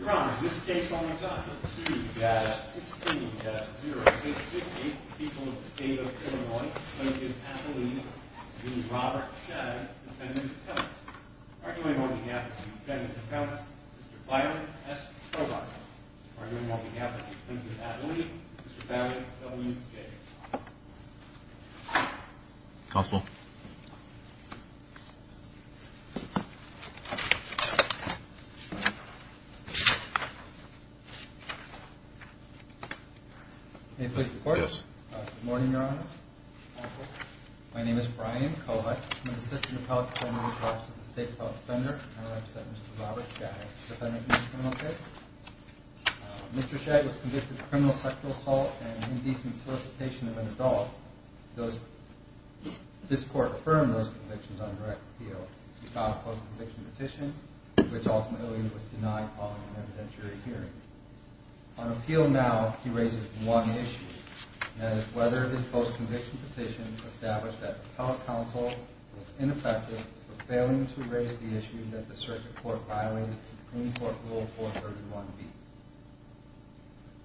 Your Honor, in this case on the dot, number 2, data 16-0668, the people of the state of Illinois, Lincoln, Attalee, and Robert Schag, defendants and counts. Arguing on behalf of the defendants and counts, Mr. Byron S. Tobacco. Arguing on behalf of Lincoln, Attalee, Mr. Barry W. Gates. Counsel. May it please the Court? Yes. Good morning, Your Honor. My name is Brian Kohut. I'm an assistant appellate defender with the Office of the State Appellate Defender. And I represent Mr. Robert Schag, defendant in the criminal case. Mr. Schag was convicted of criminal sexual assault and indecent solicitation of an adult. This Court affirmed those convictions on direct appeal. He filed a post-conviction petition, which ultimately was denied following an evidentiary hearing. On appeal now, he raises one issue, and that is whether his post-conviction petition established that the appellate counsel was ineffective for failing to raise the issue that the circuit court violated to the Clean Court Rule 431B.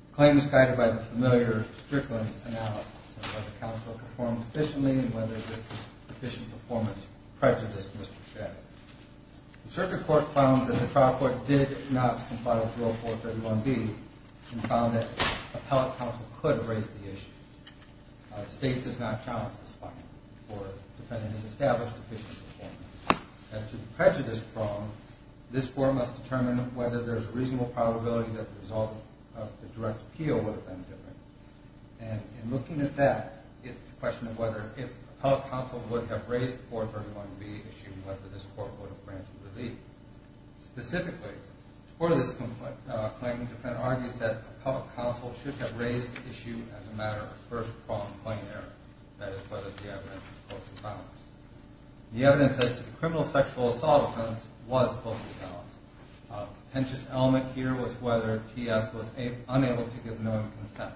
The claim is guided by the familiar Strickland analysis of whether counsel performed efficiently and whether this efficient performance prejudiced Mr. Schag. The circuit court found that the trial court did not comply with Rule 431B and found that appellate counsel could raise the issue. The State does not challenge this finding for the defendant's established efficient performance. And to the prejudice prong, this Court must determine whether there's a reasonable probability that the result of the direct appeal would have been different. And in looking at that, it's a question of whether if appellate counsel would have raised 431B, assuming whether this Court would have granted relief. Specifically, for this claim, the defendant argues that appellate counsel should have raised the issue as a matter of first-pronged claim error, that is, whether the evidence was false or balanced. The evidence as to the criminal sexual assault offense was falsely balanced. A contentious element here was whether T.S. was unable to give knowing consent.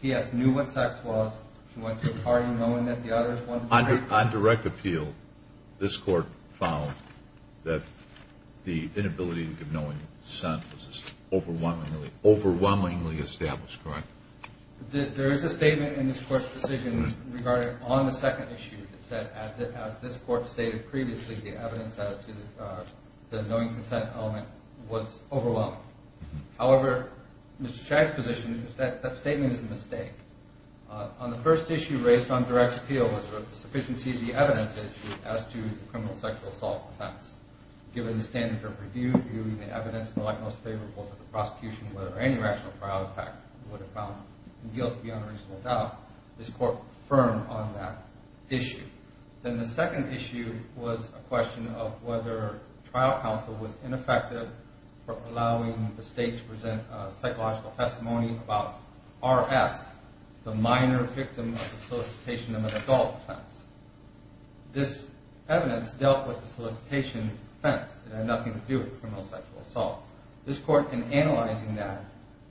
T.S. knew what sex was. She went to a party knowing that the others wanted to marry her. On direct appeal, this Court found that the inability to give knowing consent was overwhelmingly established, correct? There is a statement in this Court's decision regarding on the second issue that said that as this Court stated previously, the evidence as to the knowing consent element was overwhelming. However, Mr. Chag's position is that that statement is a mistake. On the first issue raised on direct appeal was a sufficiency of the evidence issue as to the criminal sexual assault offense. Given the standard of review, viewing the evidence in the light most favorable to the prosecution, whether any rational trial effect would have found guilt beyond a reasonable doubt, this Court was firm on that issue. Then the second issue was a question of whether trial counsel was ineffective for allowing the State to present a psychological testimony about R.S., the minor victim of the solicitation of an adult offense. This evidence dealt with the solicitation offense. It had nothing to do with criminal sexual assault. This Court, in analyzing that,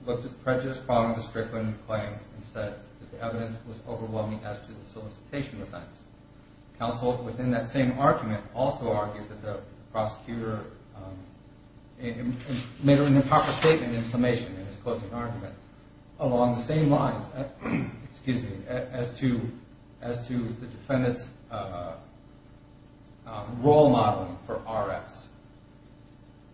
looked at the prejudice problem of the Strickland claim and said that the evidence was overwhelming as to the solicitation offense. Counsel, within that same argument, also argued that the prosecutor made an improper statement in summation in his closing argument along the same lines as to the defendant's role modeling for R.S.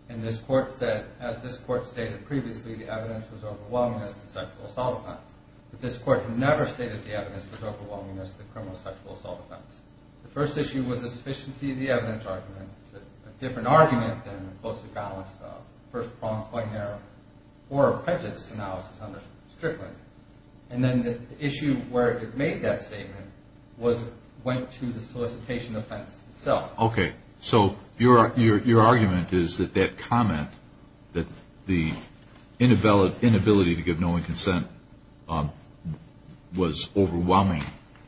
And this Court said, as this Court stated previously, the evidence was overwhelming as to the sexual assault offense. But this Court never stated the evidence was overwhelming as to the criminal sexual assault offense. The first issue was a sufficiency of the evidence argument, a different argument than the closely balanced first-pronged point of error or prejudice analysis under Strickland. And then the issue where it made that statement went to the solicitation offense itself. Okay. So your argument is that that comment, that the inability to give knowing consent, was overwhelming,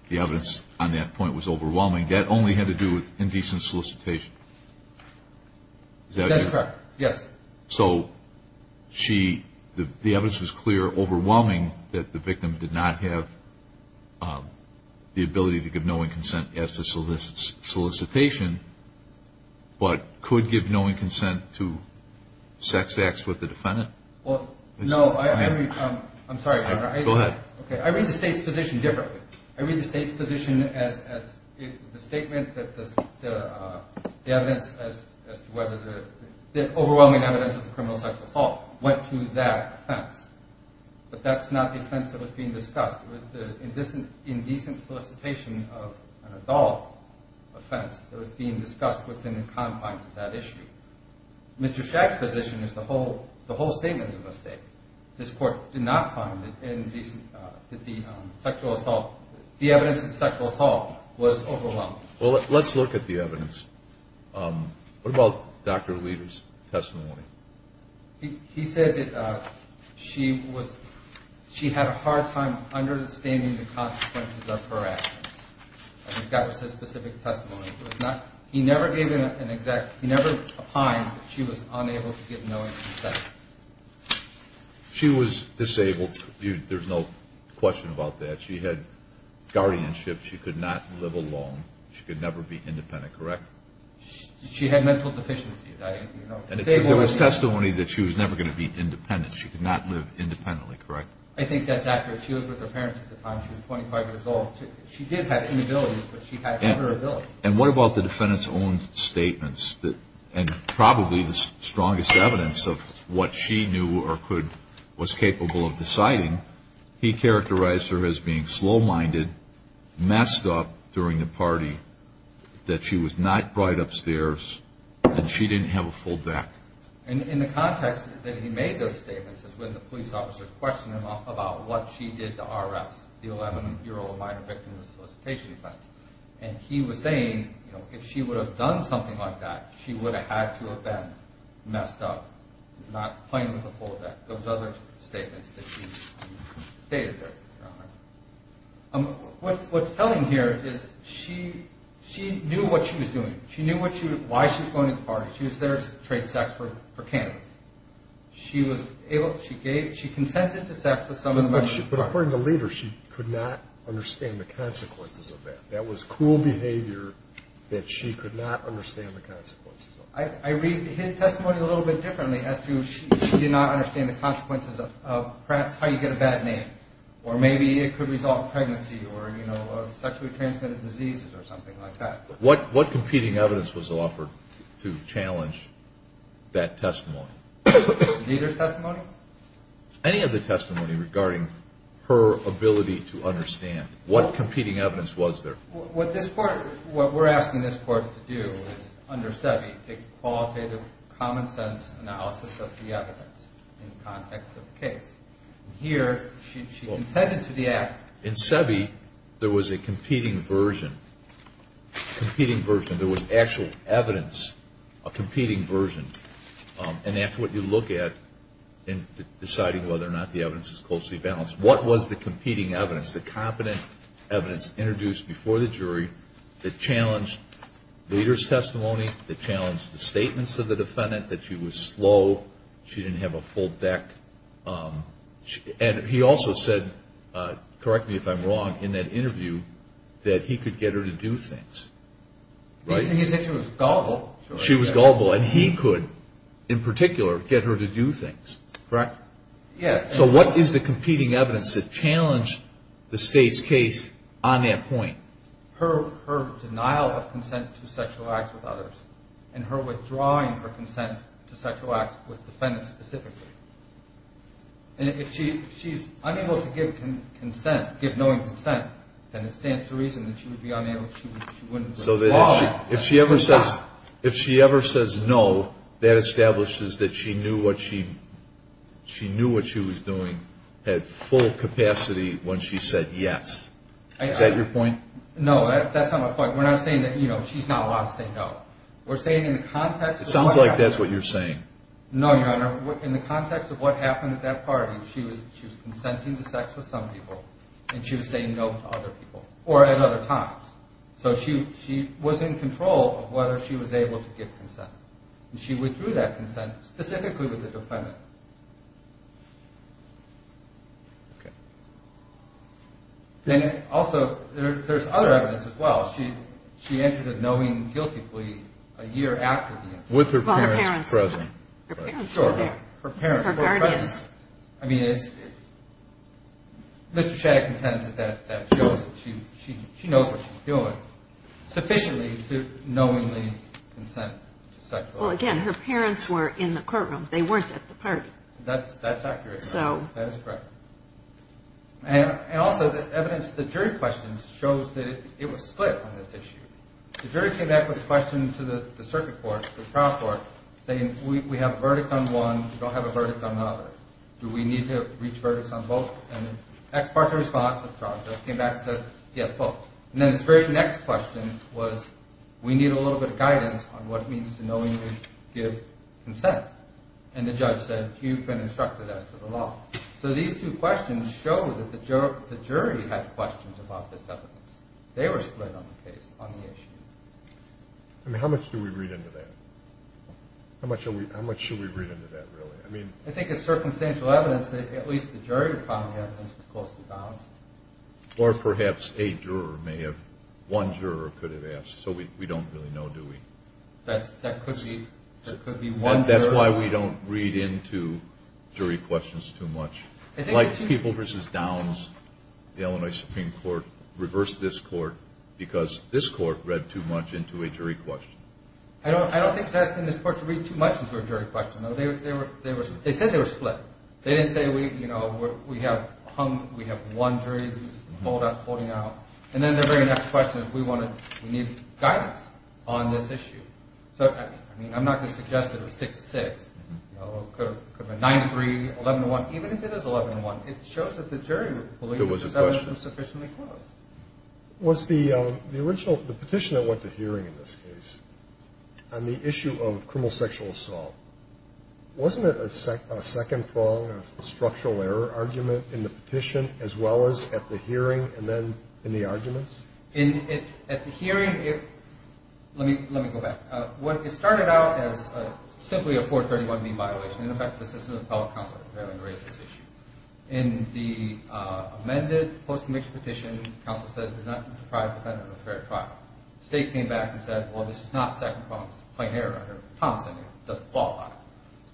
the evidence on that point was overwhelming. That only had to do with indecent solicitation. That's correct. Yes. So the evidence was clear, overwhelming, that the victim did not have the ability to give knowing consent as to solicitation, but could give knowing consent to sex acts with the defendant? Well, no. I'm sorry, Your Honor. Go ahead. Okay. I read the State's position differently. I read the State's position as the statement that the evidence as to whether the overwhelming evidence of the criminal sexual assault went to that offense. But that's not the offense that was being discussed. It was the indecent solicitation of an adult offense that was being discussed within the confines of that issue. Mr. Shack's position is the whole statement is a mistake. This Court did not find that the evidence of sexual assault was overwhelming. Well, let's look at the evidence. What about Dr. Leder's testimony? He said that she had a hard time understanding the consequences of her actions. I think that was his specific testimony. He never gave an exact – he never opined that she was unable to give knowing consent. She was disabled. There's no question about that. She had guardianship. She could not live alone. She could never be independent, correct? She had mental deficiencies. There was testimony that she was never going to be independent. She could not live independently, correct? I think that's accurate. She was with her parents at the time. She was 25 years old. She did have inabilities, but she had her ability. And what about the defendant's own statements? And probably the strongest evidence of what she knew or could – was capable of deciding, he characterized her as being slow-minded, messed up during the party, that she was not brought upstairs, and she didn't have a full deck. And in the context that he made those statements is when the police officer questioned him about what she did to R.S., the 11-year-old minor victim of solicitation offense, and he was saying, you know, if she would have done something like that, she would have had to have been messed up, not playing with a full deck, those other statements that he stated there. What's telling here is she knew what she was doing. She knew why she was going to the party. She was there to trade sex for cannabis. She was able – she gave – she consented to sex with some of the men. But according to Leder, she could not understand the consequences of that. That was cruel behavior that she could not understand the consequences of. I read his testimony a little bit differently as to she did not understand the consequences of perhaps how you get a bad name, or maybe it could result in pregnancy or, you know, sexually transmitted diseases or something like that. What competing evidence was offered to challenge that testimony? Leder's testimony? Any of the testimony regarding her ability to understand. What competing evidence was there? What this court – what we're asking this court to do is, under SEBI, take qualitative, common-sense analysis of the evidence in the context of the case. Here, she consented to the act. In SEBI, there was a competing version, competing version. There was actual evidence, a competing version. And that's what you look at in deciding whether or not the evidence is closely balanced. What was the competing evidence, the competent evidence introduced before the jury that challenged Leder's testimony, that challenged the statements of the defendant, that she was slow, she didn't have a full deck? And he also said, correct me if I'm wrong, in that interview, that he could get her to do things. He said she was gullible. She was gullible. And he could, in particular, get her to do things, correct? Yes. So what is the competing evidence that challenged the State's case on that point? Her denial of consent to sexual acts with others and her withdrawing her consent to sexual acts with defendants specifically. And if she's unable to give consent, give knowing consent, then it stands to reason that she would be unable, she wouldn't withdraw that consent. So if she ever says no, that establishes that she knew what she was doing at full capacity when she said yes. Is that your point? No, that's not my point. We're not saying that, you know, she's not allowed to say no. We're saying in the context of what happened. It sounds like that's what you're saying. No, Your Honor. In the context of what happened at that party, she was consenting to sex with some people and she was saying no to other people or at other times. So she was in control of whether she was able to give consent. And she withdrew that consent specifically with the defendant. Okay. Then also there's other evidence as well. She entered a knowing guilty plea a year after the incident. With her parents present. Her parents were there. Her parents were present. Her guardians. I mean, Mr. Shagg contends that that shows that she knows what she's doing. Sufficiently to knowingly consent to sexual assault. Well, again, her parents were in the courtroom. They weren't at the party. That's accurate. So. That is correct. And also the evidence, the jury questions shows that it was split on this issue. The jury came back with a question to the circuit court, the trial court, saying we have a verdict on one, we don't have a verdict on the other. Do we need to reach verdicts on both? And the ex parte response of the trial court came back and said, yes, both. And then this very next question was, we need a little bit of guidance on what it means to knowingly give consent. And the judge said, you've been instructed as to the law. So these two questions show that the jury had questions about this evidence. They were split on the case, on the issue. I mean, how much do we read into that? How much should we read into that, really? I think it's circumstantial evidence that at least the jury found the evidence was closely balanced. Or perhaps a juror may have, one juror could have asked. So we don't really know, do we? That could be one juror. That's why we don't read into jury questions too much. Like People v. Downs, the Illinois Supreme Court reversed this court because this court read too much into a jury question. I don't think it's asking this court to read too much into a jury question, though. They said they were split. They didn't say, you know, we have one jury who's holding out. And then the very next question, we need guidance on this issue. So, I mean, I'm not going to suggest that it was 6-6. It could have been 9-3, 11-1. Even if it is 11-1, it shows that the jury believed the evidence was sufficiently close. Was the petition that went to hearing in this case on the issue of criminal sexual assault, wasn't it a second prong, a structural error argument in the petition as well as at the hearing and then in the arguments? At the hearing, let me go back. It started out as simply a 431B violation. In effect, the system of appellate counsel had raised this issue. In the amended post-conviction petition, counsel said it did not deprive the defendant of a fair trial. The state came back and said, well, this is not a second prong. It's a plain error. It doesn't qualify.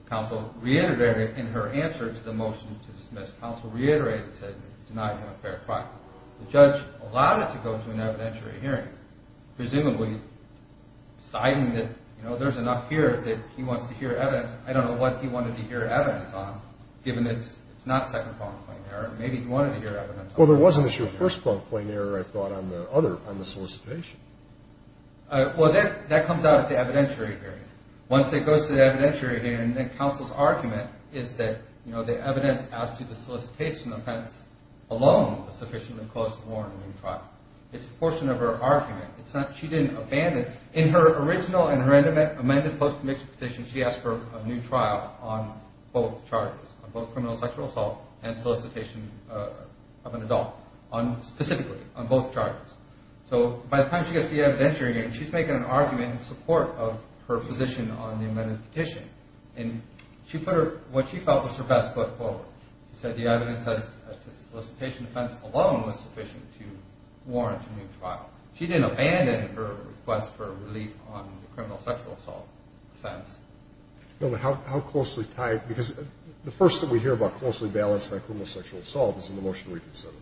Counsel reiterated in her answer to the motion to dismiss, counsel reiterated and said it denied him a fair trial. The judge allowed it to go to an evidentiary hearing, presumably citing that, you know, there's enough here that he wants to hear evidence. I don't know what he wanted to hear evidence on, given it's not second prong plain error. Maybe he wanted to hear evidence on the second prong plain error. Well, there wasn't a first prong plain error, I thought, on the solicitation. Well, that comes out at the evidentiary hearing. Once it goes to the evidentiary hearing, then counsel's argument is that, you know, the evidence as to the solicitation offense alone was sufficiently close to warrant a new trial. It's a portion of her argument. She didn't abandon. In her original and her amended post-conviction petition, she asked for a new trial on both charges, on both criminal sexual assault and solicitation of an adult, specifically on both charges. So by the time she gets to the evidentiary hearing, she's making an argument in support of her position on the amended petition, and she put what she felt was her best foot forward. She said the evidence as to the solicitation offense alone was sufficient to warrant a new trial. She didn't abandon her request for relief on the criminal sexual assault offense. No, but how closely tied? Because the first that we hear about closely balanced on criminal sexual assault is in the motion reconsidered.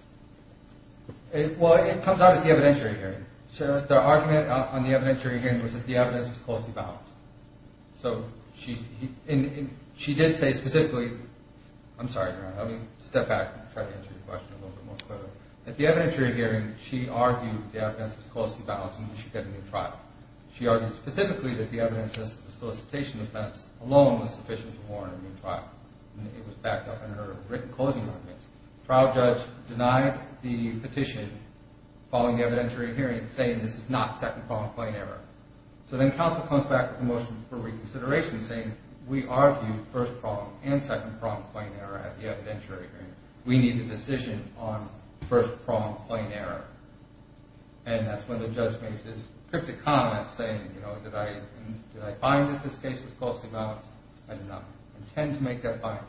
Well, it comes out at the evidentiary hearing. The argument on the evidentiary hearing was that the evidence was closely balanced. So she did say specifically – I'm sorry, Your Honor. Let me step back and try to answer your question a little bit more clearly. At the evidentiary hearing, she argued the evidence was closely balanced and she should get a new trial. She argued specifically that the evidence as to the solicitation offense alone was sufficient to warrant a new trial. It was backed up in her written closing argument. The trial judge denied the petition following the evidentiary hearing, saying this is not second-pronged plain error. So then counsel comes back with a motion for reconsideration, saying we argued first-pronged and second-pronged plain error at the evidentiary hearing. We need a decision on first-pronged plain error. And that's when the judge makes this cryptic comment, saying, you know, did I find that this case was closely balanced? I did not intend to make that finding.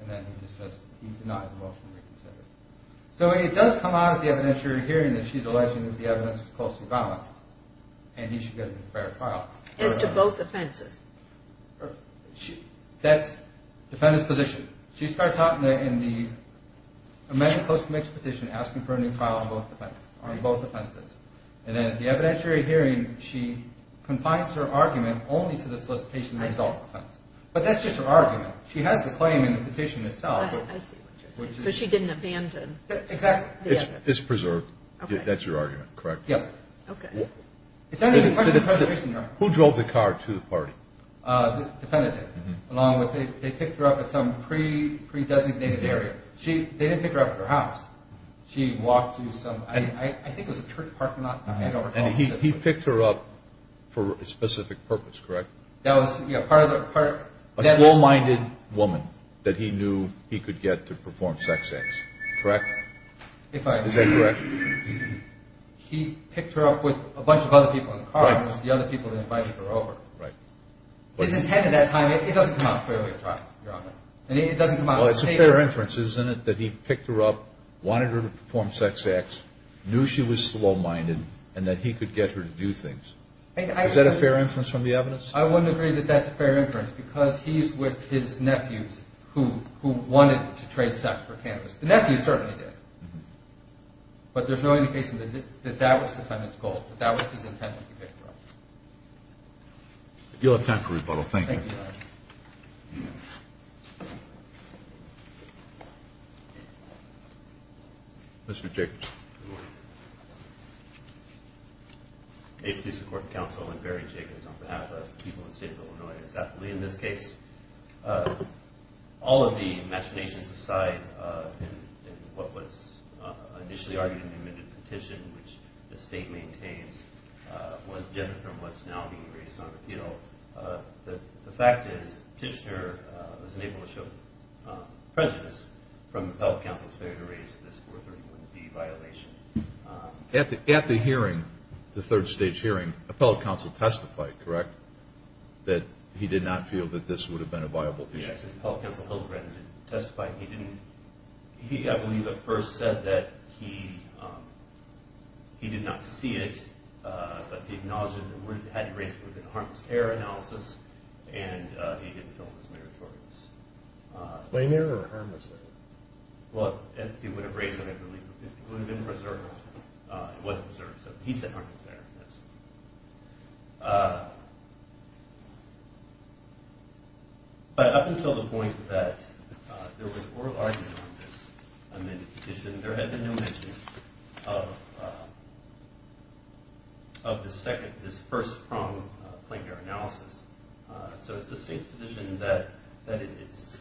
And then he just says he denied the motion reconsidered. So it does come out at the evidentiary hearing that she's alleging that the evidence was closely balanced and he should get a new fair trial. As to both offenses? That's the defendant's position. She starts out in the amended post-conviction petition asking for a new trial on both offenses. And then at the evidentiary hearing, she confines her argument only to the solicitation result offense. But that's just her argument. She has the claim in the petition itself. I see what you're saying. So she didn't abandon. Exactly. It's preserved. That's your argument, correct? Yes. Okay. Who drove the car to the party? The defendant did. They picked her up at some pre-designated area. They didn't pick her up at her house. I think it was a church parking lot. And he picked her up for a specific purpose, correct? A slow-minded woman that he knew he could get to perform sex acts, correct? Is that correct? He picked her up with a bunch of other people in the car. The other people that invited her over. Right. His intent at that time, it doesn't come out clearly at trial, Your Honor. And it doesn't come out clearly. Well, it's a fair inference, isn't it, that he picked her up, wanted her to perform sex acts, knew she was slow-minded, and that he could get her to do things. Is that a fair inference from the evidence? I wouldn't agree that that's a fair inference because he's with his nephews who wanted to trade sex for cannabis. The nephews certainly did. But there's no indication that that was the defendant's goal, that that was his intent to pick her up. You'll have time for rebuttal. Thank you, Your Honor. Mr. Jacobs. Good morning. A police court counsel, Larry Jacobs, on behalf of the people of the state of Illinois. In this case, all of the machinations aside in what was initially argued in the amended petition, which the state maintains was different from what's now being raised on the appeal, the fact is the petitioner was unable to show prejudice from the appellate counsel's failure to raise this 431B violation. At the hearing, the third stage hearing, the appellate counsel testified, correct, that he did not feel that this would have been a viable petition. Yes, the appellate counsel, Hillgren, didn't testify. He didn't. He, I believe, at first said that he did not see it, but he acknowledged that if it had been raised, it would have been a harmless error analysis, and he didn't feel it was meritorious. Lame error or harmless error? Well, if he would have raised it, I believe it would have been preserved. It was preserved, so he said harmless error. But up until the point that there was oral argument on this amended petition, there had been no mention of this first pronged plain error analysis. So it's the state's position that it's,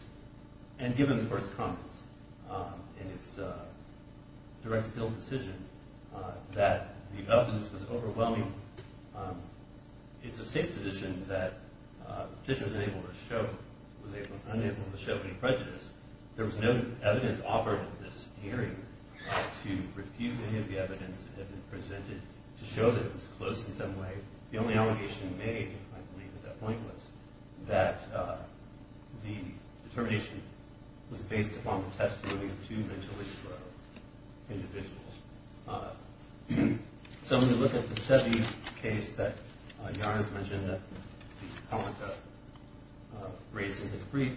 and given the court's comments and its direct appeal decision, that the evidence was overwhelming. It's the state's position that the petition was unable to show any prejudice. There was no evidence offered at this hearing to refute any of the evidence that had been presented to show that it was close in some way. The only allegation made, I believe, at that point, was that the determination was based upon the testimony of two mentally frail individuals. So when you look at the Seve case that Yara has mentioned that the appellant raised in his brief,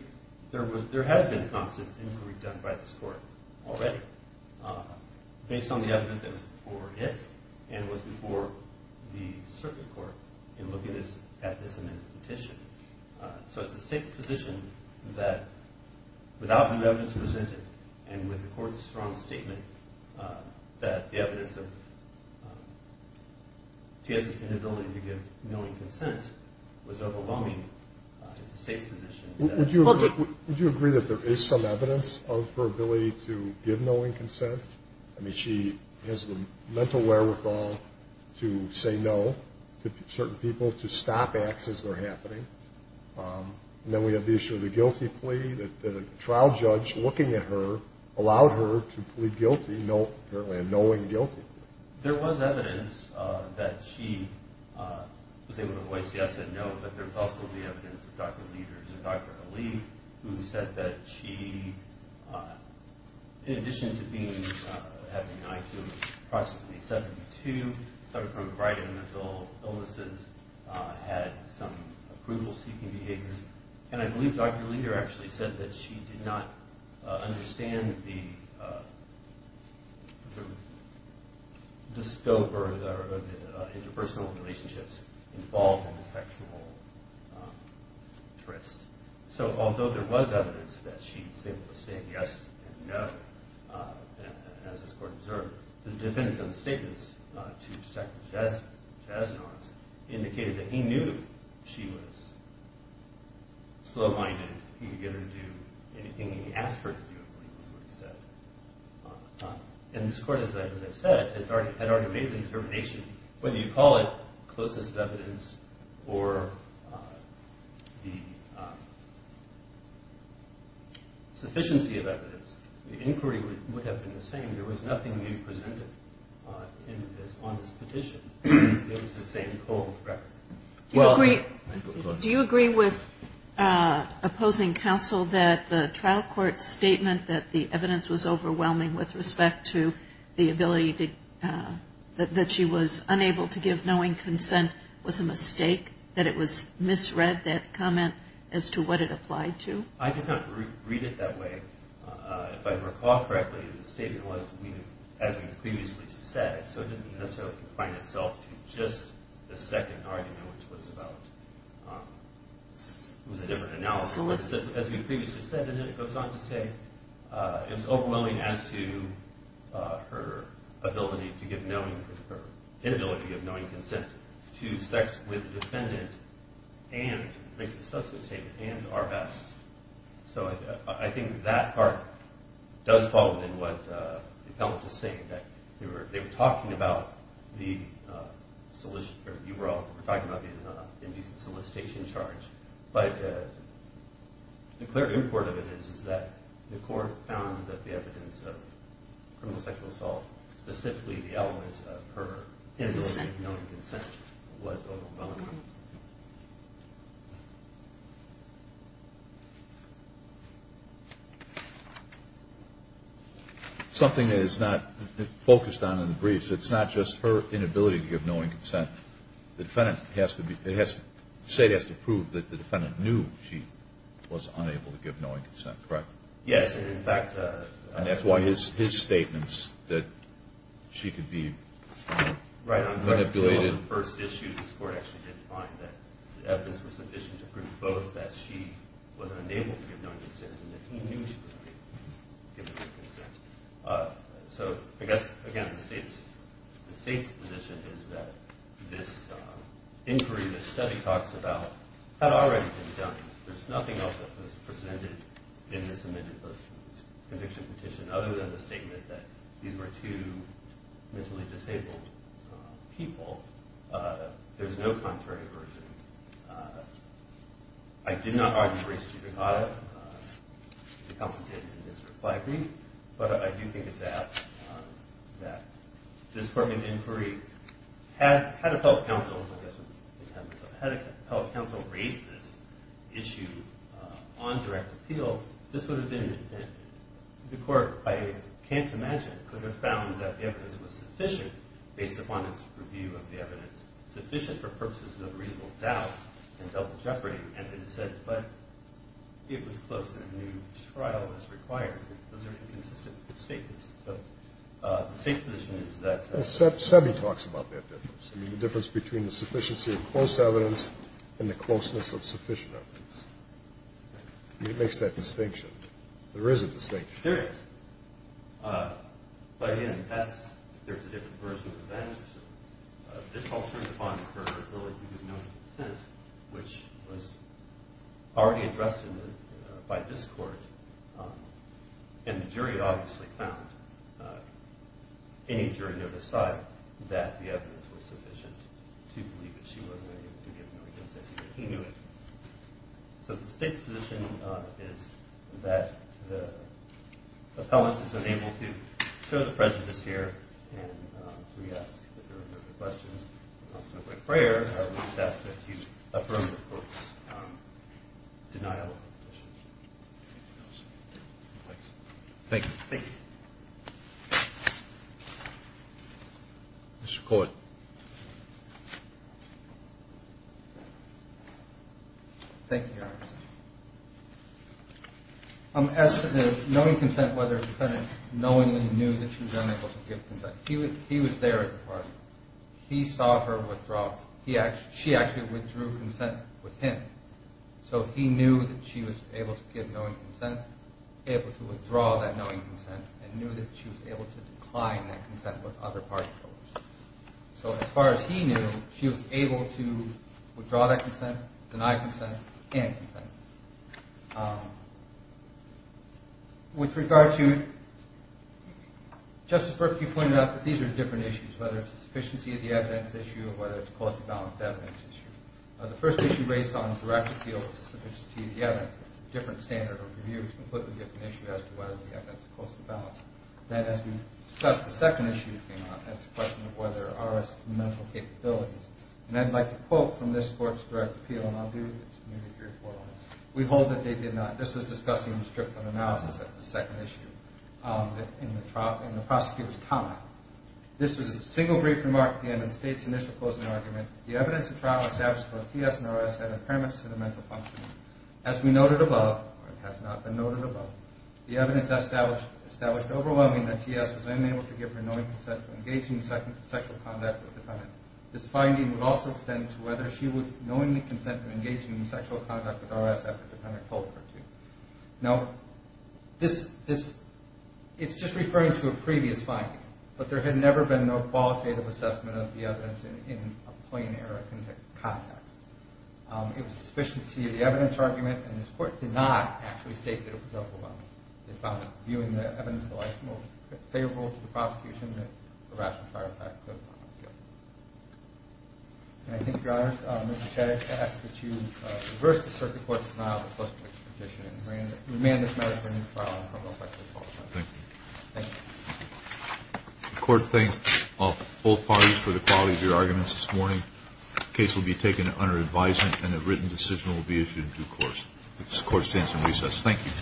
there has been a consensus inquiry done by this court already based on the evidence that was before it and was before the circuit court in looking at this amended petition. So it's the state's position that without new evidence presented and with the court's strong statement that the evidence of T.S.'s inability to give knowing consent was overwhelming, it's the state's position. Would you agree that there is some evidence of her ability to give knowing consent? I mean, she has the mental wherewithal to say no to certain people, to stop acts as they're happening. And then we have the issue of the guilty plea that a trial judge looking at her allowed her to plead guilty, apparently a knowing guilty plea. There was evidence that she was able to voice yes and no, but there's also the evidence of Dr. Leder, Dr. Ali, who said that she, in addition to having an IQ of approximately 72, suffering from chronic mental illnesses, had some approval-seeking behaviors. And I believe Dr. Leder actually said that she did not understand the scope or the interpersonal relationships involved in the sexual interest. So although there was evidence that she was able to say yes and no, as this court observed, the defendant's own statements to Detective Jesnons indicated that he knew she was slow-minded. He could get her to do anything he asked her to do, I believe is what he said. And this court, as I said, had already made the determination, whether you call it closeness of evidence or the sufficiency of evidence, the inquiry would have been the same. There was nothing new presented on this petition. It was the same cold record. Do you agree with opposing counsel that the trial court statement that the evidence was overwhelming with respect to the ability that she was unable to give knowing consent was a mistake, that it was misread, that comment, as to what it applied to? I did not read it that way. If I recall correctly, the statement was, as we previously said, so it didn't necessarily confine itself to just the second argument, which was about a different analysis, as we previously said. And then it goes on to say it was overwhelming as to her inability to give knowing consent to sex with the defendant and, makes a substantive statement, and Arvaz. So I think that part does fall within what the appellant is saying, that they were talking about the indecent solicitation charge, but the clear import of it is that the court found that the evidence of criminal sexual assault, specifically the element of her inability to give knowing consent, was overwhelming. Something that is not focused on in the briefs, it's not just her inability to give knowing consent. The defendant has to be, it has to, the State has to prove that the defendant knew she was unable to give knowing consent, correct? Yes, and in fact. And that's why his statements that she could be manipulated. Right. On the first issue, the Court actually did find that the evidence was sufficient to prove both, that she was unable to give knowing consent and that he knew she was unable to give knowing consent. So I guess, again, the State's position is that this inquiry that the study talks about had already been done. There's nothing else that was presented in this amended post-conviction petition, other than the statement that these were two mentally disabled people. There's no contrary version. I did not argue race to be caught in this reply brief, but I do think it's apt that this court made an inquiry. Had a public counsel raised this issue on direct appeal, this would have been an amendment. The Court, I can't imagine, could have found that the evidence was sufficient, based upon its review of the evidence, sufficient for purposes of reasonable doubt and double jeopardy, and then said, but it was close and a new trial is required. Those are inconsistent statements. So the State's position is that. Well, Sebi talks about that difference. I mean, the difference between the sufficiency of close evidence and the closeness of sufficient evidence. I mean, it makes that distinction. There is a distinction. There is. But, again, there's a different version of events. This alters upon her ability to give no consensus, which was already addressed by this Court, and the jury obviously found, any jury note aside, that the evidence was sufficient to believe that she wasn't able to give no consensus, but he knew it. So the State's position is that the appellant is unable to show the prejudice here and to re-ask if there are further questions. So my prayer, I would just ask that you affirm the Court's denial of the petition. Thank you. Thank you. Mr. Court. Thank you, Your Honor. As to the knowing consent, whether the defendant knowingly knew that she was unable to give consent, he was there at the party. He saw her withdraw. She actually withdrew consent with him. So he knew that she was able to give knowing consent, able to withdraw that knowing consent, and knew that she was able to decline that consent with other party members. So as far as he knew, she was able to withdraw that consent, deny consent, and consent. With regard to Justice Berkey pointed out that these are different issues, whether it's a sufficiency of the evidence issue or whether it's a cost of balance of evidence issue. The first issue based on direct appeal of sufficiency of the evidence, that's a different standard of review. It's a completely different issue as to whether the evidence is cost of balance. Then as we discussed the second issue that came up, that's a question of whether R.S. has mental capabilities. And I'd like to quote from this Court's direct appeal, and I'll do it. We hold that they did not. This was discussing restrictive analysis. That's the second issue in the prosecutor's comment. This was a single brief remark at the end of the State's initial closing argument. The evidence of trial established that both T.S. and R.S. had impairments to the mental function. As we noted above, or it has not been noted above, the evidence established overwhelming that T.S. was unable to give her knowing consent to engage in sexual conduct with the defendant. This finding would also extend to whether she would knowingly consent to engage in sexual conduct with R.S. after the defendant told her to. Now, it's just referring to a previous finding, but there had never been no qualitative assessment of the evidence in a plain error context. It was sufficient to see the evidence argument, and this Court did not actually state that it was overwhelming. They found it, viewing the evidence, the life most favorable to the prosecution that the R.S. and Trial Fact could not give. And I think, Your Honor, Mr. Chetik, I ask that you reverse the circuit court's denial of the post-conviction petition and remand this matter to a new trial in the criminal section as well. Thank you. Thank you. The Court thanks both parties for the quality of your arguments this morning. The case will be taken under advisement, and a written decision will be issued in due course. This Court stands in recess. Thank you.